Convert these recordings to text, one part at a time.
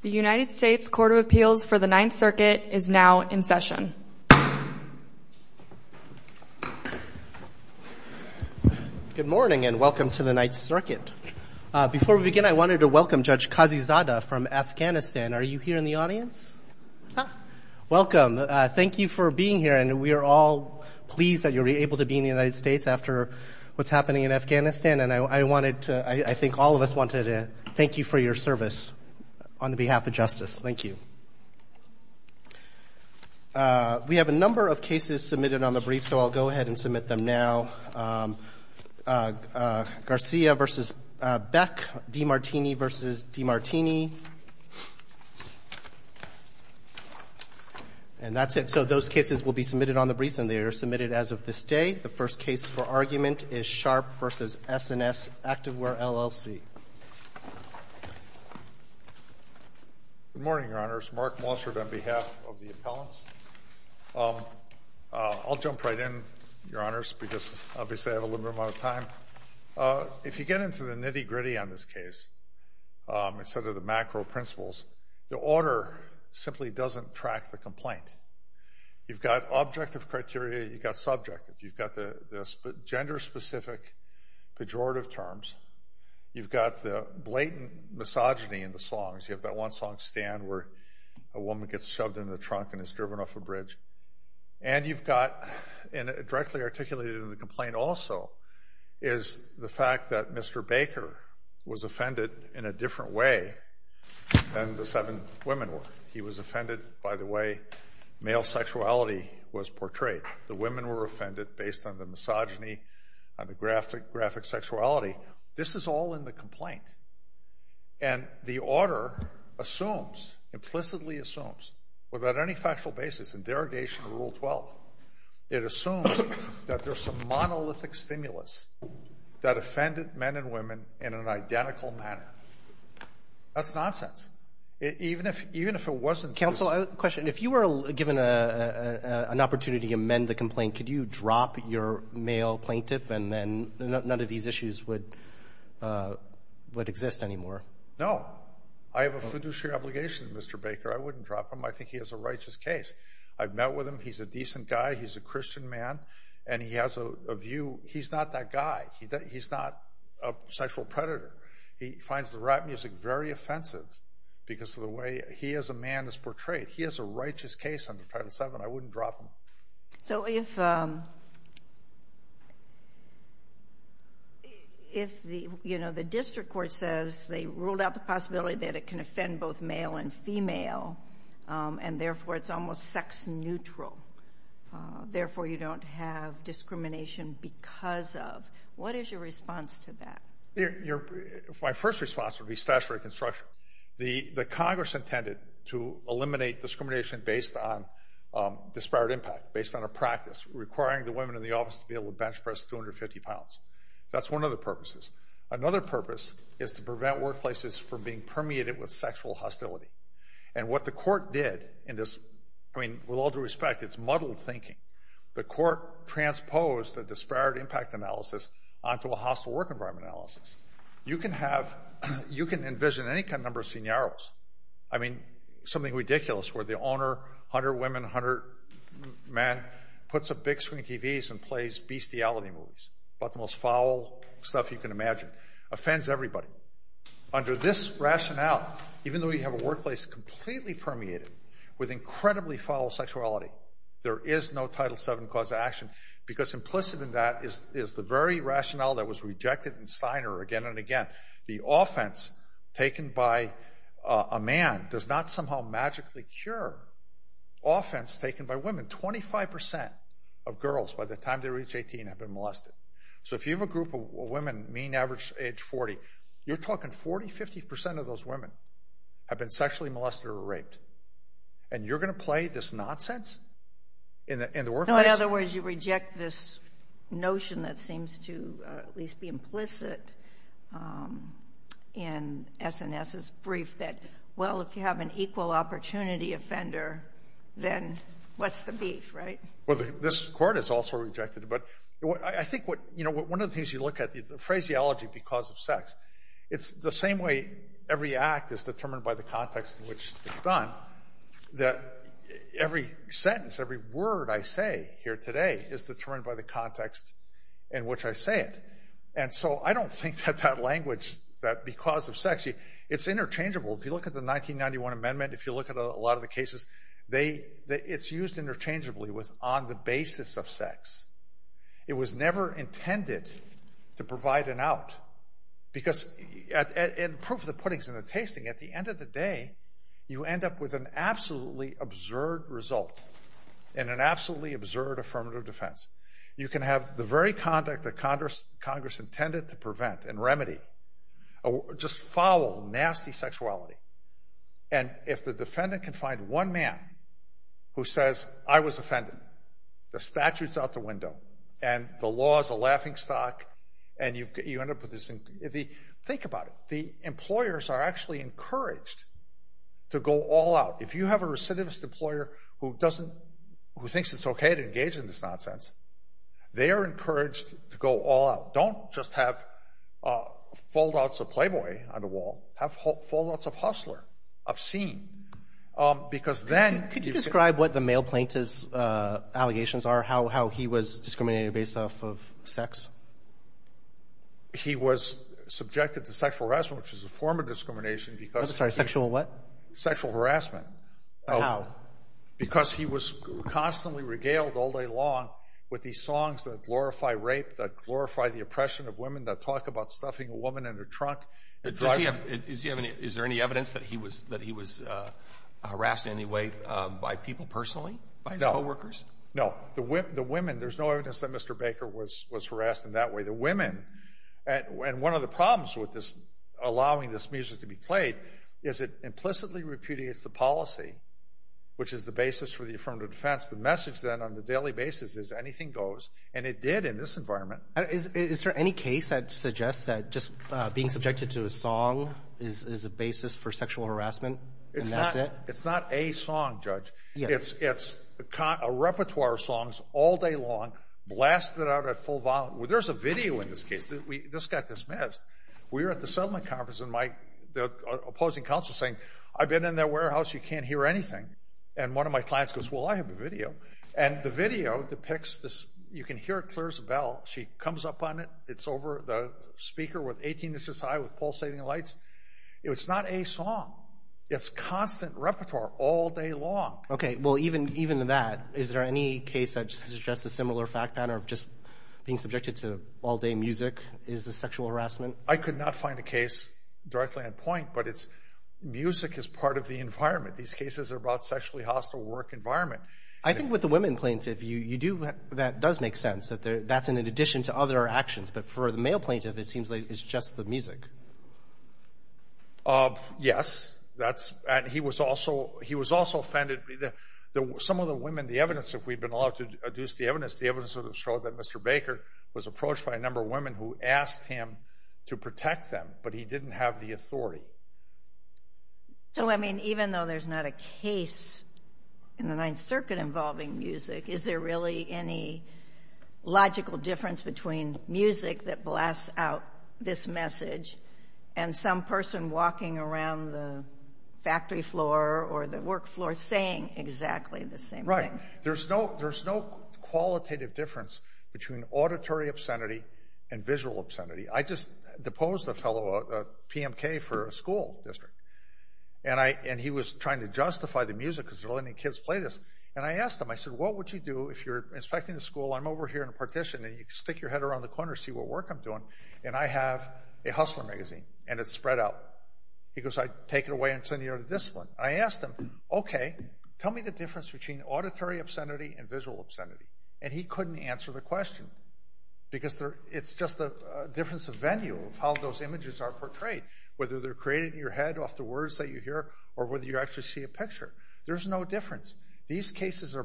The United States Court of Appeals for the Ninth Circuit is now in session. Good morning and welcome to the Ninth Circuit. Before we begin, I wanted to welcome Judge Kazi Zada from Afghanistan. Are you here in the audience? Welcome. Thank you for being here. And we are all pleased that you're able to be in the United States after what's happening in Afghanistan. And I wanted to, I think all of us wanted to thank you for your service on behalf of justice. Thank you. We have a number of cases submitted on the brief, so I'll go ahead and submit them now. Garcia v. Beck, DiMartini v. DiMartini. And that's it. So those cases will be submitted on the brief, and they are submitted as of this day. The first case for argument is Sharp v. S&S Activewear, L.L.C. Good morning, Your Honors. Mark Mossard on behalf of the appellants. I'll jump right in, Your Honors, because obviously I have a limited amount of time. If you get into the nitty-gritty on this case, instead of the macro principles, the order simply doesn't track the complaint. You've got objective criteria. You've got subjective. You've got the gender-specific pejorative terms. You've got the blatant misogyny in the songs. You have that one song, Stand, where a woman gets shoved into the trunk and is driven off a bridge. And you've got directly articulated in the complaint also is the fact that Mr. Baker was offended in a different way than the seven women were. He was offended by the way male sexuality was portrayed. The women were offended based on the misogyny, on the graphic sexuality. This is all in the complaint. And the order assumes, implicitly assumes, without any factual basis in derogation of Rule 12, it assumes that there's some monolithic stimulus that offended men and women in an identical manner. That's nonsense. Even if it wasn't true. Counsel, question. If you were given an opportunity to amend the complaint, could you drop your male plaintiff and then none of these issues would exist anymore? No. I have a fiduciary obligation to Mr. Baker. I wouldn't drop him. I think he has a righteous case. I've met with him. He's a decent guy. He's a Christian man. And he has a view. He's not that guy. He's not a sexual predator. He finds the rap music very offensive because of the way he as a man is portrayed. He has a righteous case under Title VII. I wouldn't drop him. So if, you know, the district court says they ruled out the possibility that it can offend both male and female, and therefore it's almost sex neutral, therefore you don't have discrimination because of. What is your response to that? My first response would be statutory construction. The Congress intended to eliminate discrimination based on disparate impact, based on a practice, requiring the women in the office to be able to bench press 250 pounds. That's one of the purposes. Another purpose is to prevent workplaces from being permeated with sexual hostility. And what the court did in this, I mean, with all due respect, it's muddled thinking. The court transposed the disparate impact analysis onto a hostile work environment analysis. You can have, you can envision any number of scenarios. I mean, something ridiculous where the owner, 100 women, 100 men, puts up big screen TVs and plays bestiality movies about the most foul stuff you can imagine. Offends everybody. Under this rationale, even though you have a workplace completely permeated with incredibly foul sexuality, there is no Title VII cause of action. Because implicit in that is the very rationale that was rejected in Steiner again and again. The offense taken by a man does not somehow magically cure offense taken by women. 25% of girls, by the time they reach 18, have been molested. So if you have a group of women, mean average age 40, you're talking 40, 50% of those women have been sexually molested or raped. And you're going to play this nonsense in the workplace? No, in other words, you reject this notion that seems to at least be implicit in S&S's brief that, well, if you have an equal opportunity offender, then what's the beef, right? Well, this court has also rejected it. But I think what, you know, one of the things you look at, the phraseology because of sex, it's the same way every act is determined by the context in which it's done, that every sentence, every word I say here today is determined by the context in which I say it. And so I don't think that that language, that because of sex, it's interchangeable. If you look at the 1991 amendment, if you look at a lot of the cases, it's used interchangeably with on the basis of sex. It was never intended to provide an out because in proof of the puddings and the tasting, at the end of the day, you end up with an absolutely absurd result and an absolutely absurd affirmative defense. You can have the very conduct that Congress intended to prevent and remedy, just foul, nasty sexuality, and if the defendant can find one man who says, I was offended, the statute's out the window, and the law's a laughingstock, and you end up with this. Think about it. The employers are actually encouraged to go all out. If you have a recidivist employer who thinks it's okay to engage in this nonsense, they are encouraged to go all out. Don't just have fold-outs of Playboy on the wall. Have fold-outs of Hustler, obscene. Because then you can't Could you describe what the male plaintiff's allegations are, how he was discriminated based off of sex? He was subjected to sexual harassment, which is a form of discrimination because I'm sorry. Sexual what? Sexual harassment. How? Because he was constantly regaled all day long with these songs that glorify rape, that glorify the oppression of women, that talk about stuffing a woman in her trunk. Is there any evidence that he was harassed in any way by people personally? No. By his co-workers? No. The women. There's no evidence that Mr. Baker was harassed in that way. The women. And one of the problems with this, allowing this music to be played, is it implicitly repudiates the policy, which is the basis for the affirmative defense. The message then on a daily basis is anything goes, and it did in this environment. Is there any case that suggests that just being subjected to a song is a basis for sexual harassment, and that's it? It's not a song, Judge. It's a repertoire of songs all day long, blasted out at full volume. There's a video in this case. This got dismissed. We were at the settlement conference, and the opposing counsel was saying, I've been in their warehouse. You can't hear anything. And one of my clients goes, well, I have a video. And the video depicts this. You can hear it clears a bell. She comes up on it. It's over the speaker with 18 inches high with pulsating lights. It's not a song. It's constant repertoire all day long. Okay. Well, even in that, is there any case that suggests a similar fact pattern of just being subjected to all-day music is a sexual harassment? I could not find a case directly on point, but it's music is part of the environment. These cases are about sexually hostile work environment. I think with the women plaintiff, that does make sense. That's in addition to other actions. But for the male plaintiff, it seems like it's just the music. Yes. And he was also offended. Some of the women, the evidence, if we've been allowed to deduce the evidence, the evidence would have showed that Mr. Baker was approached by a number of women who asked him to protect them, but he didn't have the authority. So, I mean, even though there's not a case in the Ninth Circuit involving music, is there really any logical difference between music that blasts out this message and some person walking around the factory floor or the work floor saying exactly the same thing? Right. There's no qualitative difference between auditory obscenity and visual obscenity. I just deposed a fellow, a PMK for a school district, and he was trying to justify the music because they're letting kids play this. And I asked him, I said, what would you do if you're inspecting the school, I'm over here in a partition, and you stick your head around the corner, see what work I'm doing, and I have a Hustler magazine and it's spread out. He goes, I'd take it away and send you to the discipline. I asked him, okay, tell me the difference between auditory obscenity and visual obscenity. And he couldn't answer the question because it's just a difference of venue, how those images are portrayed, whether they're created in your head off the words that you hear or whether you actually see a picture. There's no difference. These cases are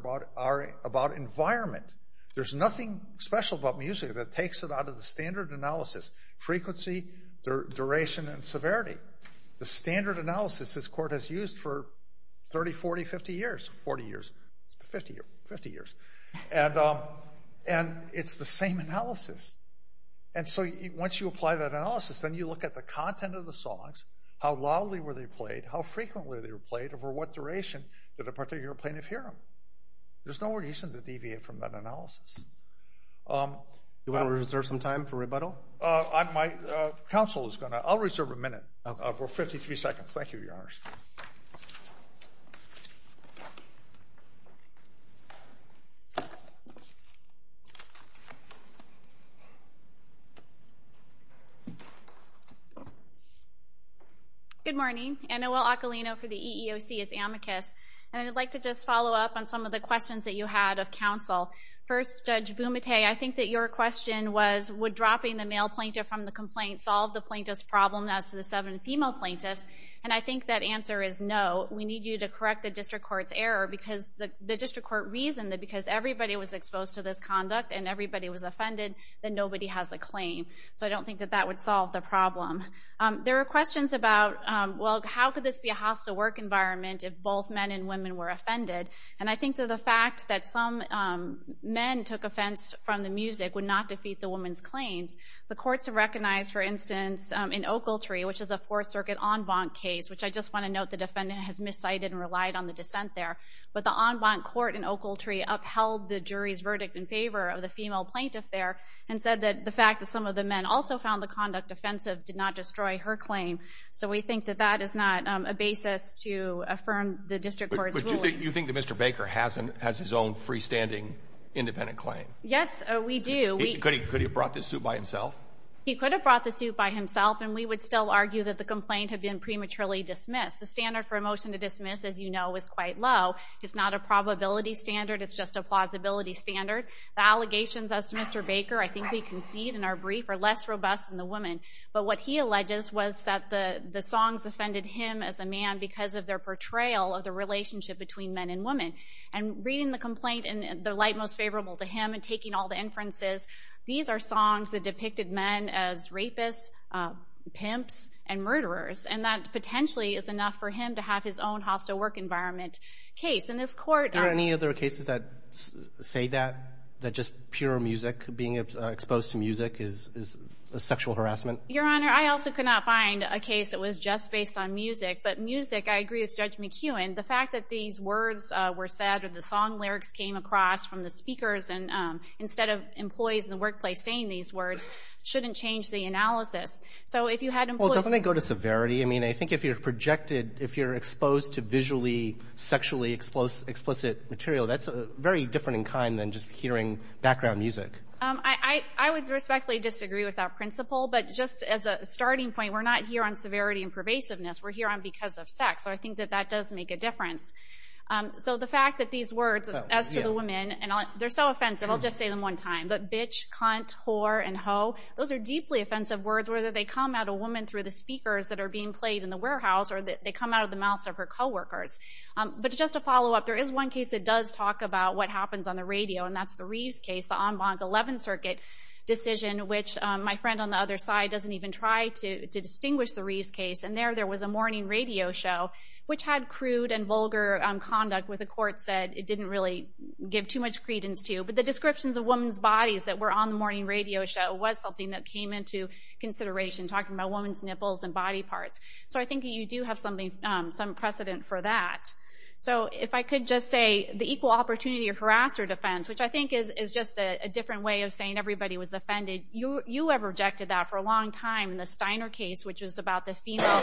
about environment. There's nothing special about music that takes it out of the standard analysis, frequency, duration, and severity. The standard analysis this court has used for 30, 40, 50 years. And it's the same analysis. And so once you apply that analysis, then you look at the content of the songs, how loudly were they played, how frequently were they played, over what duration did a particular plaintiff hear them. There's no reason to deviate from that analysis. Do you want to reserve some time for rebuttal? My counsel is going to. I'll reserve a minute for 53 seconds. Thank you, Your Honor. Good morning. Enoel Acalino for the EEOC. It's amicus. And I'd like to just follow up on some of the questions that you had of counsel. First, Judge Bumate, I think that your question was, would dropping the male plaintiff from the complaint solve the plaintiff's problem as to the seven female plaintiffs? And I think that answer is no. We need you to correct the district court's error because the district court reasoned that because everybody was exposed to this conduct and everybody was offended, that nobody has a claim. So I don't think that that would solve the problem. There were questions about, well, how could this be a hostile work environment if both men and women were offended? And I think that the fact that some men took offense from the music would not defeat the woman's claims. The courts have recognized, for instance, in Oakletree, which is a Fourth Circuit en banc case, which I just want to note the defendant has miscited and relied on the dissent there. But the en banc court in Oakletree upheld the jury's verdict in favor of the female plaintiff there and said that the fact that some of the men also found the conduct offensive did not destroy her claim. So we think that that is not a basis to affirm the district court's ruling. But you think that Mr. Baker has his own freestanding independent claim? Yes, we do. Could he have brought this suit by himself? He could have brought the suit by himself, and we would still argue that the complaint had been prematurely dismissed. The standard for a motion to dismiss, as you know, is quite low. It's not a probability standard. It's just a plausibility standard. The allegations as to Mr. Baker, I think we concede in our brief, are less robust than the woman. But what he alleges was that the songs offended him as a man because of their portrayal of the relationship between men and women. And reading the complaint in the light most favorable to him and taking all the inferences, these are songs that depicted men as rapists, pimps, and murderers. And that potentially is enough for him to have his own hostile work environment case. And this court— Are there any other cases that say that, that just pure music, being exposed to music, is sexual harassment? Your Honor, I also could not find a case that was just based on music. But music, I agree with Judge McEwen. The fact that these words were said or the song lyrics came across from the speakers instead of employees in the workplace saying these words shouldn't change the analysis. So if you had employees— Well, doesn't it go to severity? I mean, I think if you're projected, if you're exposed to visually sexually explicit material, that's very different in kind than just hearing background music. I would respectfully disagree with that principle. But just as a starting point, we're not here on severity and pervasiveness. We're here on because of sex. So I think that that does make a difference. So the fact that these words, as to the women, and they're so offensive, I'll just say them one time, but bitch, cunt, whore, and hoe, those are deeply offensive words, whether they come at a woman through the speakers that are being played in the warehouse or they come out of the mouths of her co-workers. But just to follow up, there is one case that does talk about what happens on the radio, and that's the Reeves case, the en banc 11 circuit decision, which my friend on the other side doesn't even try to distinguish the Reeves case. And there, there was a morning radio show which had crude and vulgar conduct where the court said it didn't really give too much credence to. But the descriptions of women's bodies that were on the morning radio show was something that came into consideration, talking about women's nipples and body parts. So I think you do have some precedent for that. So if I could just say the equal opportunity or harasser defense, which I think is just a different way of saying everybody was offended. You have rejected that for a long time in the Steiner case, which was about the female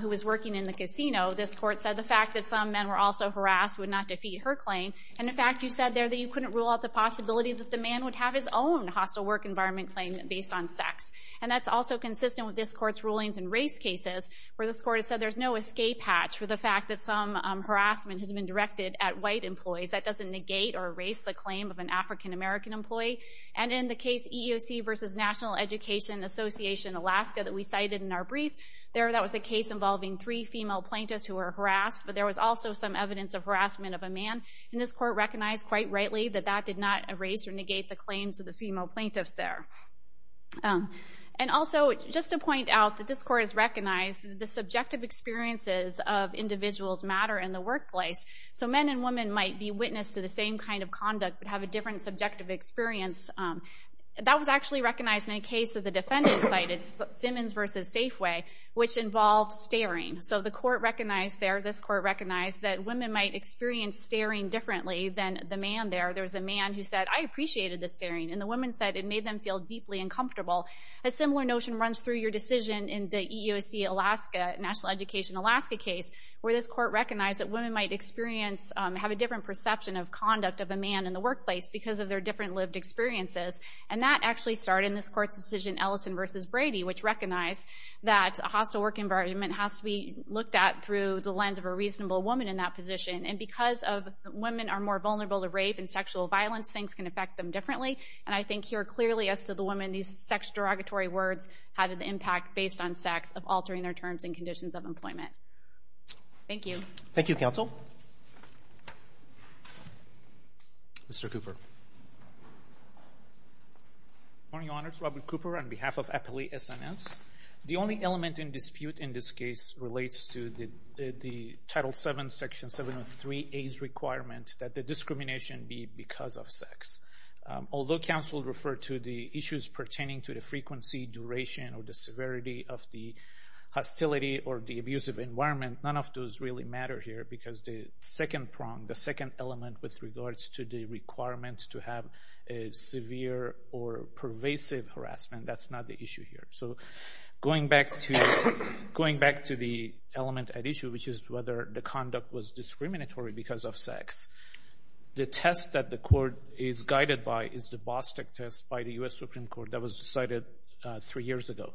who was working in the casino. This court said the fact that some men were also harassed would not defeat her claim. And in fact, you said there that you couldn't rule out the possibility that the man would have his own hostile work environment claim based on sex. And that's also consistent with this court's rulings in race cases where this court has said there's no escape hatch for the fact that some harassment has been directed at white employees. That doesn't negate or erase the claim of an African-American employee. And in the case EEOC v. National Education Association, Alaska, that we cited in our brief, there that was a case involving three female plaintiffs who were harassed, but there was also some evidence of harassment of a man. And this court recognized quite rightly that that did not erase or negate the claims of the female plaintiffs there. And also, just to point out that this court has recognized the subjective experiences of individuals matter in the workplace. So men and women might be witness to the same kind of conduct but have a different subjective experience. That was actually recognized in a case that the defendant cited, Simmons v. Safeway, which involved staring. So the court recognized there, this court recognized, that women might experience staring differently than the man there. There was a man who said, I appreciated the staring, and the woman said it made them feel deeply uncomfortable. A similar notion runs through your decision in the EEOC Alaska, National Education Alaska case, where this court recognized that women might have a different perception of conduct of a man in the workplace because of their different lived experiences. And that actually started in this court's decision, Ellison v. Brady, which recognized that a hostile work environment has to be looked at through the lens of a reasonable woman in that position. And because women are more vulnerable to rape and sexual violence, things can affect them differently. And I think here, clearly, as to the woman, these sex derogatory words had an impact based on sex of altering their terms and conditions of employment. Thank you. Thank you, counsel. Mr. Cooper. Good morning, Your Honor. It's Robert Cooper on behalf of Appalachia SNS. The only element in dispute in this case relates to the Title VII, Section 703A's requirement that the discrimination be because of sex. Although counsel referred to the issues pertaining to the frequency, duration, or the severity of the hostility or the abusive environment, none of those really matter here because the second prong, the second element with regards to the requirement to have a severe or pervasive harassment, that's not the issue here. So going back to the element at issue, which is whether the conduct was discriminatory because of sex, the test that the court is guided by is the Bostock test by the U.S. Supreme Court that was decided three years ago.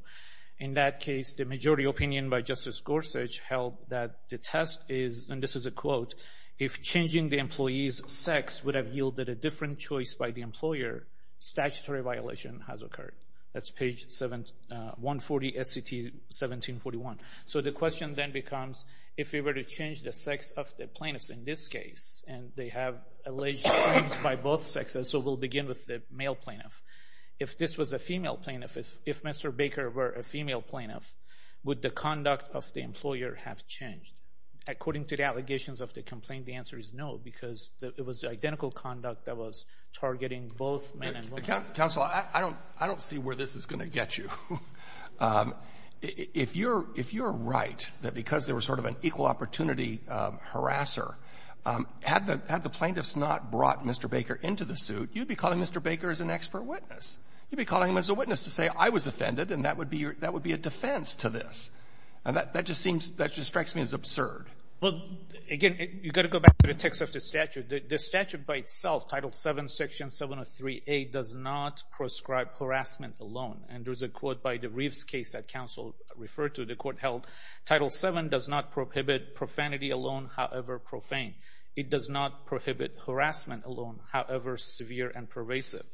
In that case, the majority opinion by Justice Gorsuch held that the test is, and this is a quote, if changing the employee's sex would have yielded a different choice by the employer, statutory violation has occurred. That's page 140, SCT 1741. So the question then becomes, if we were to change the sex of the plaintiffs in this case, and they have alleged crimes by both sexes, so we'll begin with the male plaintiff. If this was a female plaintiff, if Mr. Baker were a female plaintiff, would the conduct of the employer have changed? According to the allegations of the complaint, the answer is no because it was identical conduct that was targeting both men and women. Counsel, I don't see where this is going to get you. If you're right that because there was sort of an equal opportunity harasser, had the plaintiffs not brought Mr. Baker into the suit, you'd be calling Mr. Baker as an expert witness. You'd be calling him as a witness to say, I was offended and that would be a defense to this. And that just seems, that just strikes me as absurd. Well, again, you've got to go back to the text of the statute. The statute by itself, Title VII, Section 703A, does not prescribe harassment alone. And there's a quote by the Reeves case that counsel referred to, the court held, Title VII does not prohibit profanity alone, however profane. It does not prohibit harassment alone, however severe and pervasive.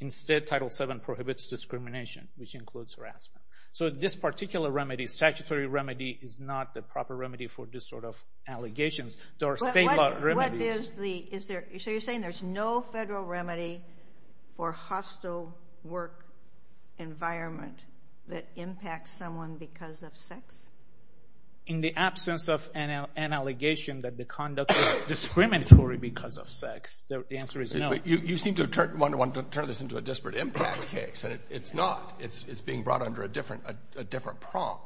Instead, Title VII prohibits discrimination, which includes harassment. So this particular remedy, statutory remedy, is not the proper remedy for this sort of allegations. There are state law remedies. So you're saying there's no federal remedy for hostile work environment that impacts someone because of sex? In the absence of an allegation that the conduct is discriminatory because of sex, the answer is no. You seem to want to turn this into a disparate impact case, and it's not. It's being brought under a different prong.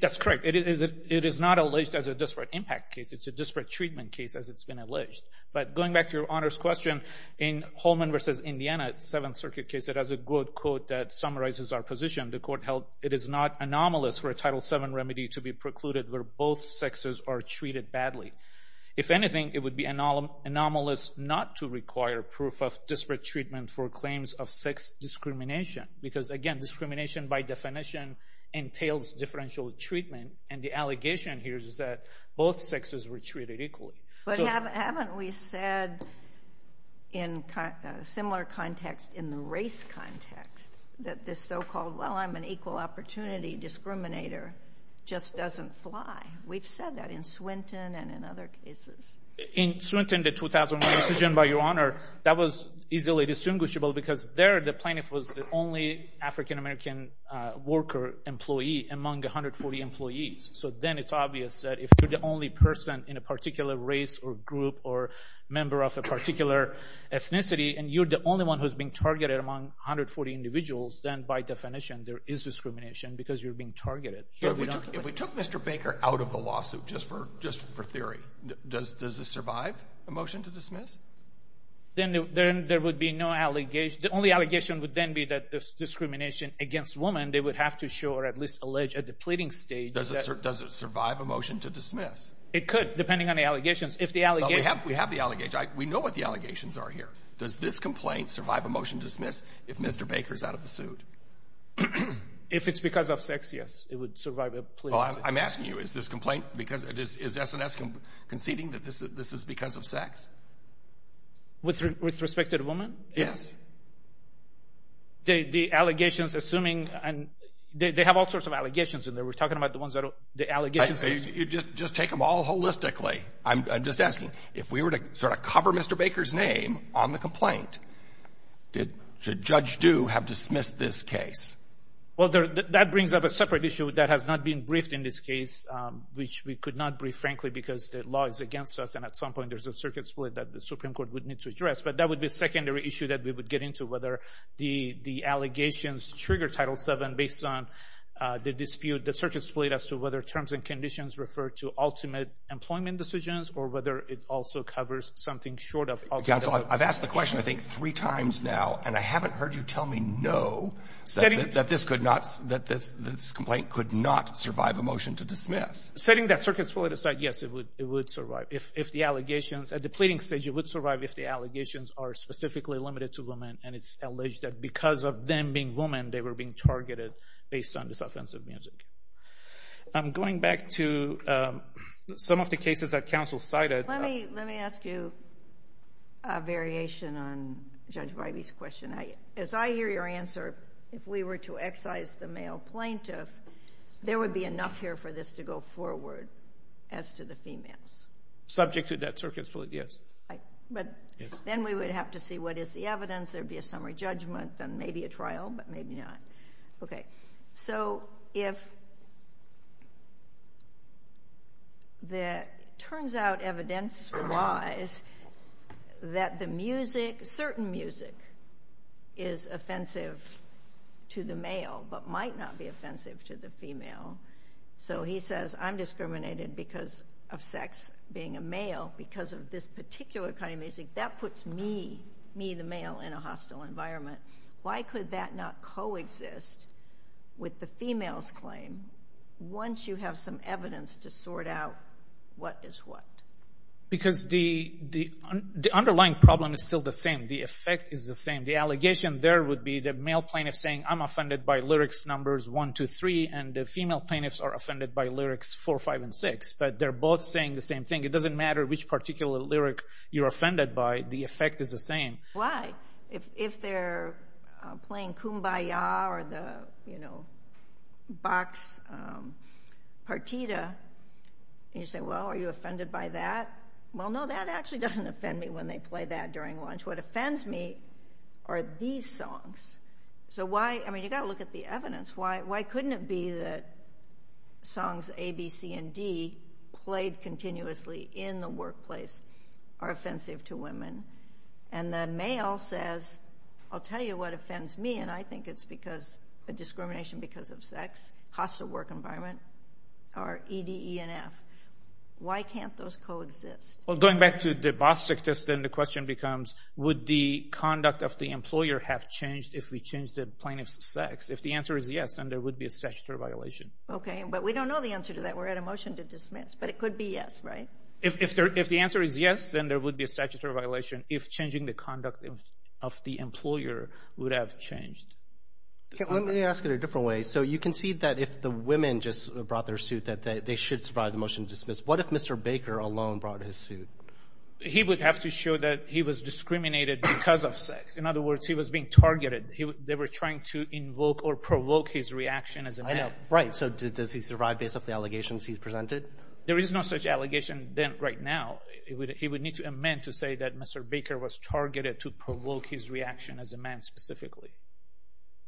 That's correct. It is not alleged as a disparate impact case. It's a disparate treatment case, as it's been alleged. But going back to Your Honor's question, in Holman v. Indiana, Seventh Circuit case, it has a good quote that summarizes our position. The court held it is not anomalous for a Title VII remedy to be precluded where both sexes are treated badly. If anything, it would be anomalous not to require proof of disparate treatment for claims of sex discrimination because, again, discrimination by definition entails differential treatment, and the allegation here is that both sexes were treated equally. But haven't we said in a similar context in the race context that this so-called, well, I'm an equal opportunity discriminator just doesn't fly? We've said that in Swinton and in other cases. In Swinton, the 2001 decision, by Your Honor, that was easily distinguishable because there the plaintiff was the only African-American worker employee among 140 employees. So then it's obvious that if you're the only person in a particular race or group or member of a particular ethnicity and you're the only one who's being targeted among 140 individuals, then by definition there is discrimination because you're being targeted. If we took Mr. Baker out of the lawsuit, just for theory, does this survive a motion to dismiss? Then there would be no allegation. The only allegation would then be that there's discrimination against women. They would have to show or at least allege at the pleading stage. It could, depending on the allegations. We have the allegations. We know what the allegations are here. Does this complaint survive a motion to dismiss if Mr. Baker is out of the suit? If it's because of sex, yes, it would survive a plea. I'm asking you, is this complaint because, is S&S conceding that this is because of sex? With respect to the woman? Yes. The allegations assuming, they have all sorts of allegations in there. We're talking about the ones that are the allegations. You just take them all holistically. I'm just asking, if we were to sort of cover Mr. Baker's name on the complaint, should Judge Du have dismissed this case? Well, that brings up a separate issue that has not been briefed in this case, which we could not brief, frankly, because the law is against us and at some point there's a circuit split that the Supreme Court would need to address, but that would be a secondary issue that we would get into, whether the allegations trigger Title VII based on the dispute, the circuit split as to whether terms and conditions refer to ultimate employment decisions or whether it also covers something short of ultimate employment decisions. Counsel, I've asked the question I think three times now, and I haven't heard you tell me no, that this complaint could not survive a motion to dismiss. Setting that circuit split aside, yes, it would survive. If the allegations, at the pleading stage, it would survive if the allegations are specifically limited to women and it's alleged that because of them being women, they were being targeted based on this offensive music. Going back to some of the cases that counsel cited. Let me ask you a variation on Judge Wybie's question. As I hear your answer, if we were to excise the male plaintiff, there would be enough here for this to go forward as to the females. Subject to that circuit split, yes. Then we would have to see what is the evidence. There would be a summary judgment and maybe a trial, but maybe not. Okay. So if there turns out evidence for lies that the music, certain music, is offensive to the male but might not be offensive to the female. So he says I'm discriminated because of sex being a male because of this particular kind of music. That puts me, the male, in a hostile environment. Why could that not coexist with the female's claim once you have some evidence to sort out what is what? Because the underlying problem is still the same. The effect is the same. The allegation there would be the male plaintiff saying I'm offended by lyrics numbers one, two, three, and the female plaintiffs are offended by lyrics four, five, and six, but they're both saying the same thing. It doesn't matter which particular lyric you're offended by. The effect is the same. Why? If they're playing Kumbaya or the Bach's Partita, and you say, well, are you offended by that? Well, no, that actually doesn't offend me when they play that during lunch. What offends me are these songs. So why, I mean, you've got to look at the evidence. Why couldn't it be that songs A, B, C, and D played continuously in the workplace are offensive to women, and the male says, I'll tell you what offends me, and I think it's discrimination because of sex, hostile work environment, or E, D, E, and F. Why can't those coexist? Going back to the Bostic test, then the question becomes, would the conduct of the employer have changed if we changed the plaintiff's sex? If the answer is yes, then there would be a statutory violation. Okay, but we don't know the answer to that. We're at a motion to dismiss, but it could be yes, right? If the answer is yes, then there would be a statutory violation if changing the conduct of the employer would have changed. Let me ask it a different way. So you concede that if the women just brought their suit, that they should survive the motion to dismiss. What if Mr. Baker alone brought his suit? He would have to show that he was discriminated because of sex. In other words, he was being targeted. They were trying to invoke or provoke his reaction as a man. I know. Right. So does he survive based off the allegations he's presented? There is no such allegation right now. He would need to amend to say that Mr. Baker was targeted to provoke his reaction as a man specifically.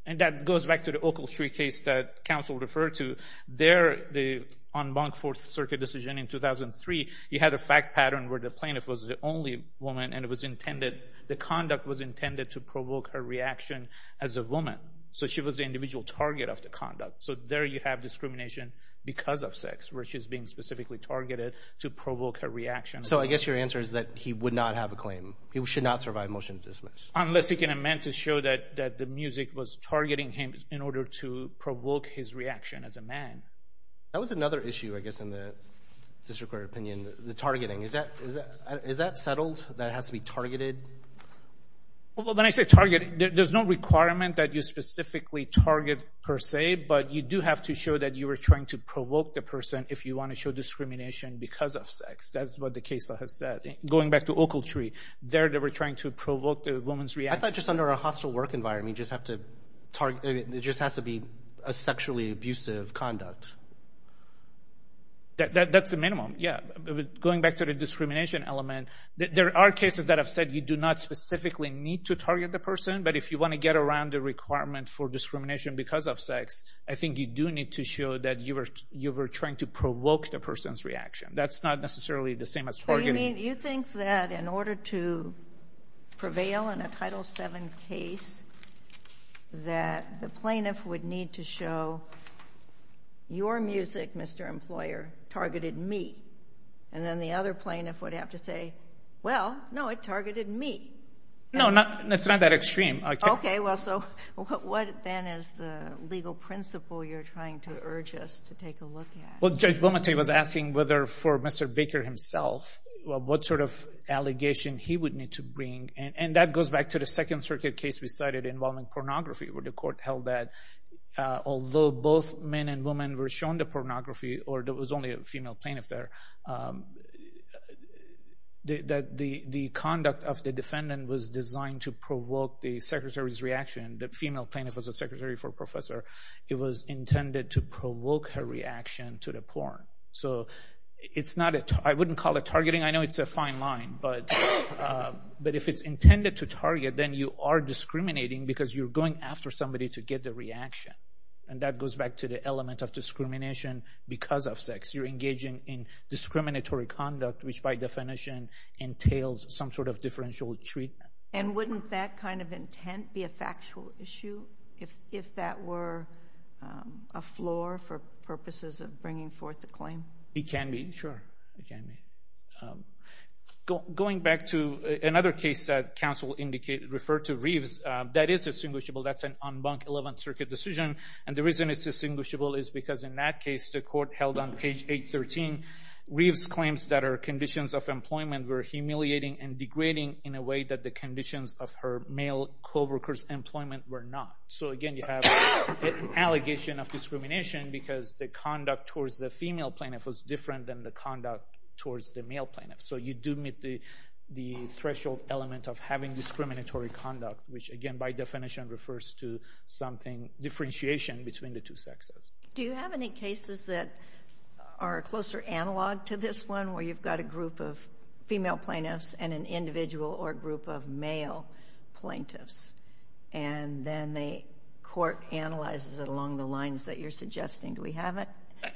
And that goes back to the Oakle Street case that counsel referred to. There, on Monk Fourth Circuit decision in 2003, you had a fact pattern where the plaintiff was the only woman and the conduct was intended to provoke her reaction as a woman. So she was the individual target of the conduct. So there you have discrimination because of sex, where she's being specifically targeted to provoke her reaction. So I guess your answer is that he would not have a claim. He should not survive motion to dismiss. Unless he can amend to show that the music was targeting him in order to provoke his reaction as a man. That was another issue, I guess, in the district court opinion, the targeting. Is that settled that it has to be targeted? When I say targeted, there's no requirement that you specifically target per se, but you do have to show that you were trying to provoke the person if you want to show discrimination because of sex. That's what the case has said. Going back to Oakle Tree, there they were trying to provoke the woman's reaction. I thought just under a hostile work environment, it just has to be a sexually abusive conduct. That's the minimum, yeah. Going back to the discrimination element, there are cases that have said you do not specifically need to target the person, but if you want to get around the requirement for discrimination because of sex, I think you do need to show that you were trying to provoke the person's reaction. That's not necessarily the same as targeting. You think that in order to prevail in a Title VII case, that the plaintiff would need to show, your music, Mr. Employer, targeted me, and then the other plaintiff would have to say, well, no, it targeted me. No, it's not that extreme. Okay, well, so what then is the legal principle you're trying to urge us to take a look at? Well, Judge Beaumont was asking whether for Mr. Baker himself, what sort of allegation he would need to bring, and that goes back to the Second Circuit case we cited involving pornography, where the court held that although both men and women were shown the pornography, or there was only a female plaintiff there, the conduct of the defendant was designed to provoke the secretary's reaction. The female plaintiff was a secretary for a professor. It was intended to provoke her reaction to the porn. I wouldn't call it targeting. I know it's a fine line, but if it's intended to target, then you are discriminating because you're going after somebody to get the reaction, and that goes back to the element of discrimination because of sex. You're engaging in discriminatory conduct, which by definition entails some sort of differential treatment. And wouldn't that kind of intent be a factual issue, if that were a floor for purposes of bringing forth a claim? It can be, sure. Going back to another case that counsel referred to, Reeves, that is distinguishable. That's an en banc 11th Circuit decision, and the reason it's distinguishable is because in that case, the court held on page 813, Reeves claims that her conditions of employment were humiliating and degrading in a way that the conditions of her male co-workers' employment were not. So, again, you have an allegation of discrimination because the conduct towards the female plaintiff was different than the conduct towards the male plaintiff. So you do meet the threshold element of having discriminatory conduct, which again, by definition, refers to differentiation between the two sexes. Do you have any cases that are closer analog to this one, where you've got a group of female plaintiffs and an individual or group of male plaintiffs, and then the court analyzes it along the lines that you're suggesting? Do we have it?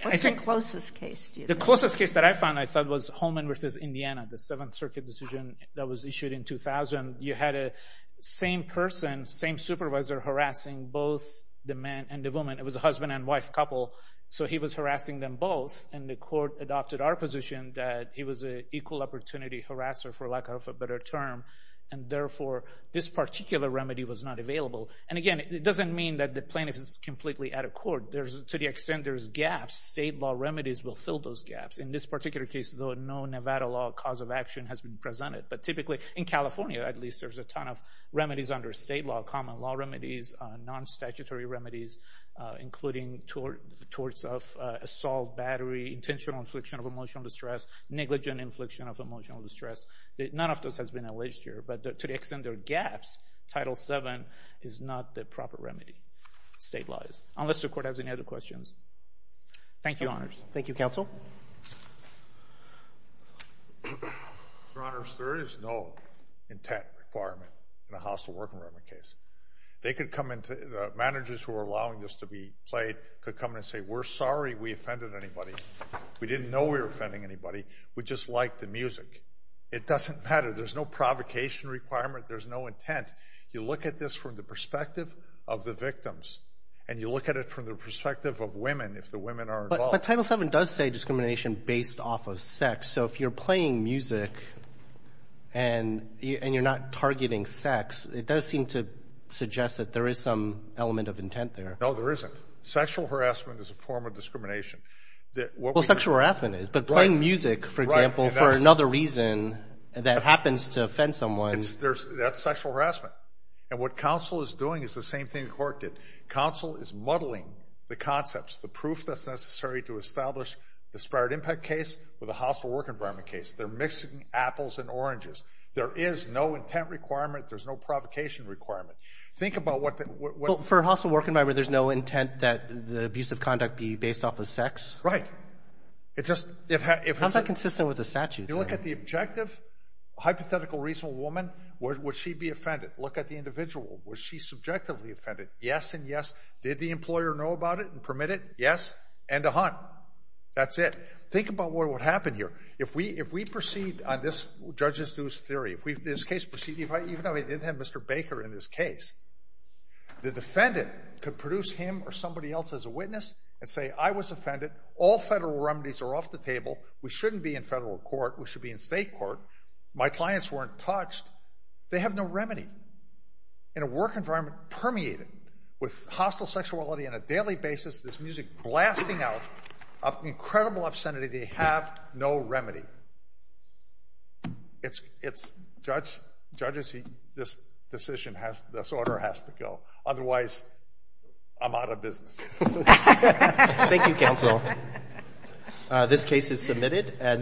What's the closest case? The closest case that I found, I thought, was Holman v. Indiana, the 7th Circuit decision that was issued in 2000. You had the same person, same supervisor, harassing both the man and the woman. It was a husband and wife couple, so he was harassing them both, and the court adopted our position that he was an equal opportunity harasser, for lack of a better term, and therefore this particular remedy was not available. And again, it doesn't mean that the plaintiff is completely out of court. To the extent there's gaps, state law remedies will fill those gaps. In this particular case, though, no Nevada law cause of action has been presented. But typically, in California at least, there's a ton of remedies under state law, common law remedies, non-statutory remedies, including torts of assault, battery, intentional infliction of emotional distress, negligent infliction of emotional distress. None of those has been alleged here, but to the extent there are gaps, Title VII is not the proper remedy. State law is. Unless the court has any other questions. Thank you, Your Honors. Thank you, Counsel. Your Honors, there is no intent requirement in the hostile working environment case. They could come in to—managers who are allowing this to be played could come in and say, We're sorry we offended anybody. We didn't know we were offending anybody. We just liked the music. It doesn't matter. There's no provocation requirement. There's no intent. You look at this from the perspective of the victims, and you look at it from the perspective of women, if the women are involved. But Title VII does say discrimination based off of sex. So if you're playing music and you're not targeting sex, it does seem to suggest that there is some element of intent there. No, there isn't. Sexual harassment is a form of discrimination. Well, sexual harassment is, but playing music, for example, for another reason that happens to offend someone. That's sexual harassment. And what counsel is doing is the same thing the court did. Counsel is muddling the concepts, the proof that's necessary to establish the disparate impact case or the hostile work environment case. They're mixing apples and oranges. There is no intent requirement. There's no provocation requirement. Think about what— For a hostile work environment, there's no intent that the abuse of conduct be based off of sex? Right. How is that consistent with the statute? You look at the objective, hypothetical, reasonable woman, would she be offended? Look at the individual. Was she subjectively offended? Yes and yes. Did the employer know about it and permit it? Yes. And to hunt. That's it. Think about what would happen here. If we proceed on this judge's news theory, if this case proceeded—even though we didn't have Mr. Baker in this case, the defendant could produce him or somebody else as a witness and say, I was offended. All federal remedies are off the table. We shouldn't be in federal court. We should be in state court. My clients weren't touched. They have no remedy. In a work environment permeated with hostile sexuality on a daily basis, there's music blasting out of incredible obscenity. They have no remedy. Judges, this decision has—this order has to go. Otherwise, I'm out of business. Thank you, counsel. This case is submitted.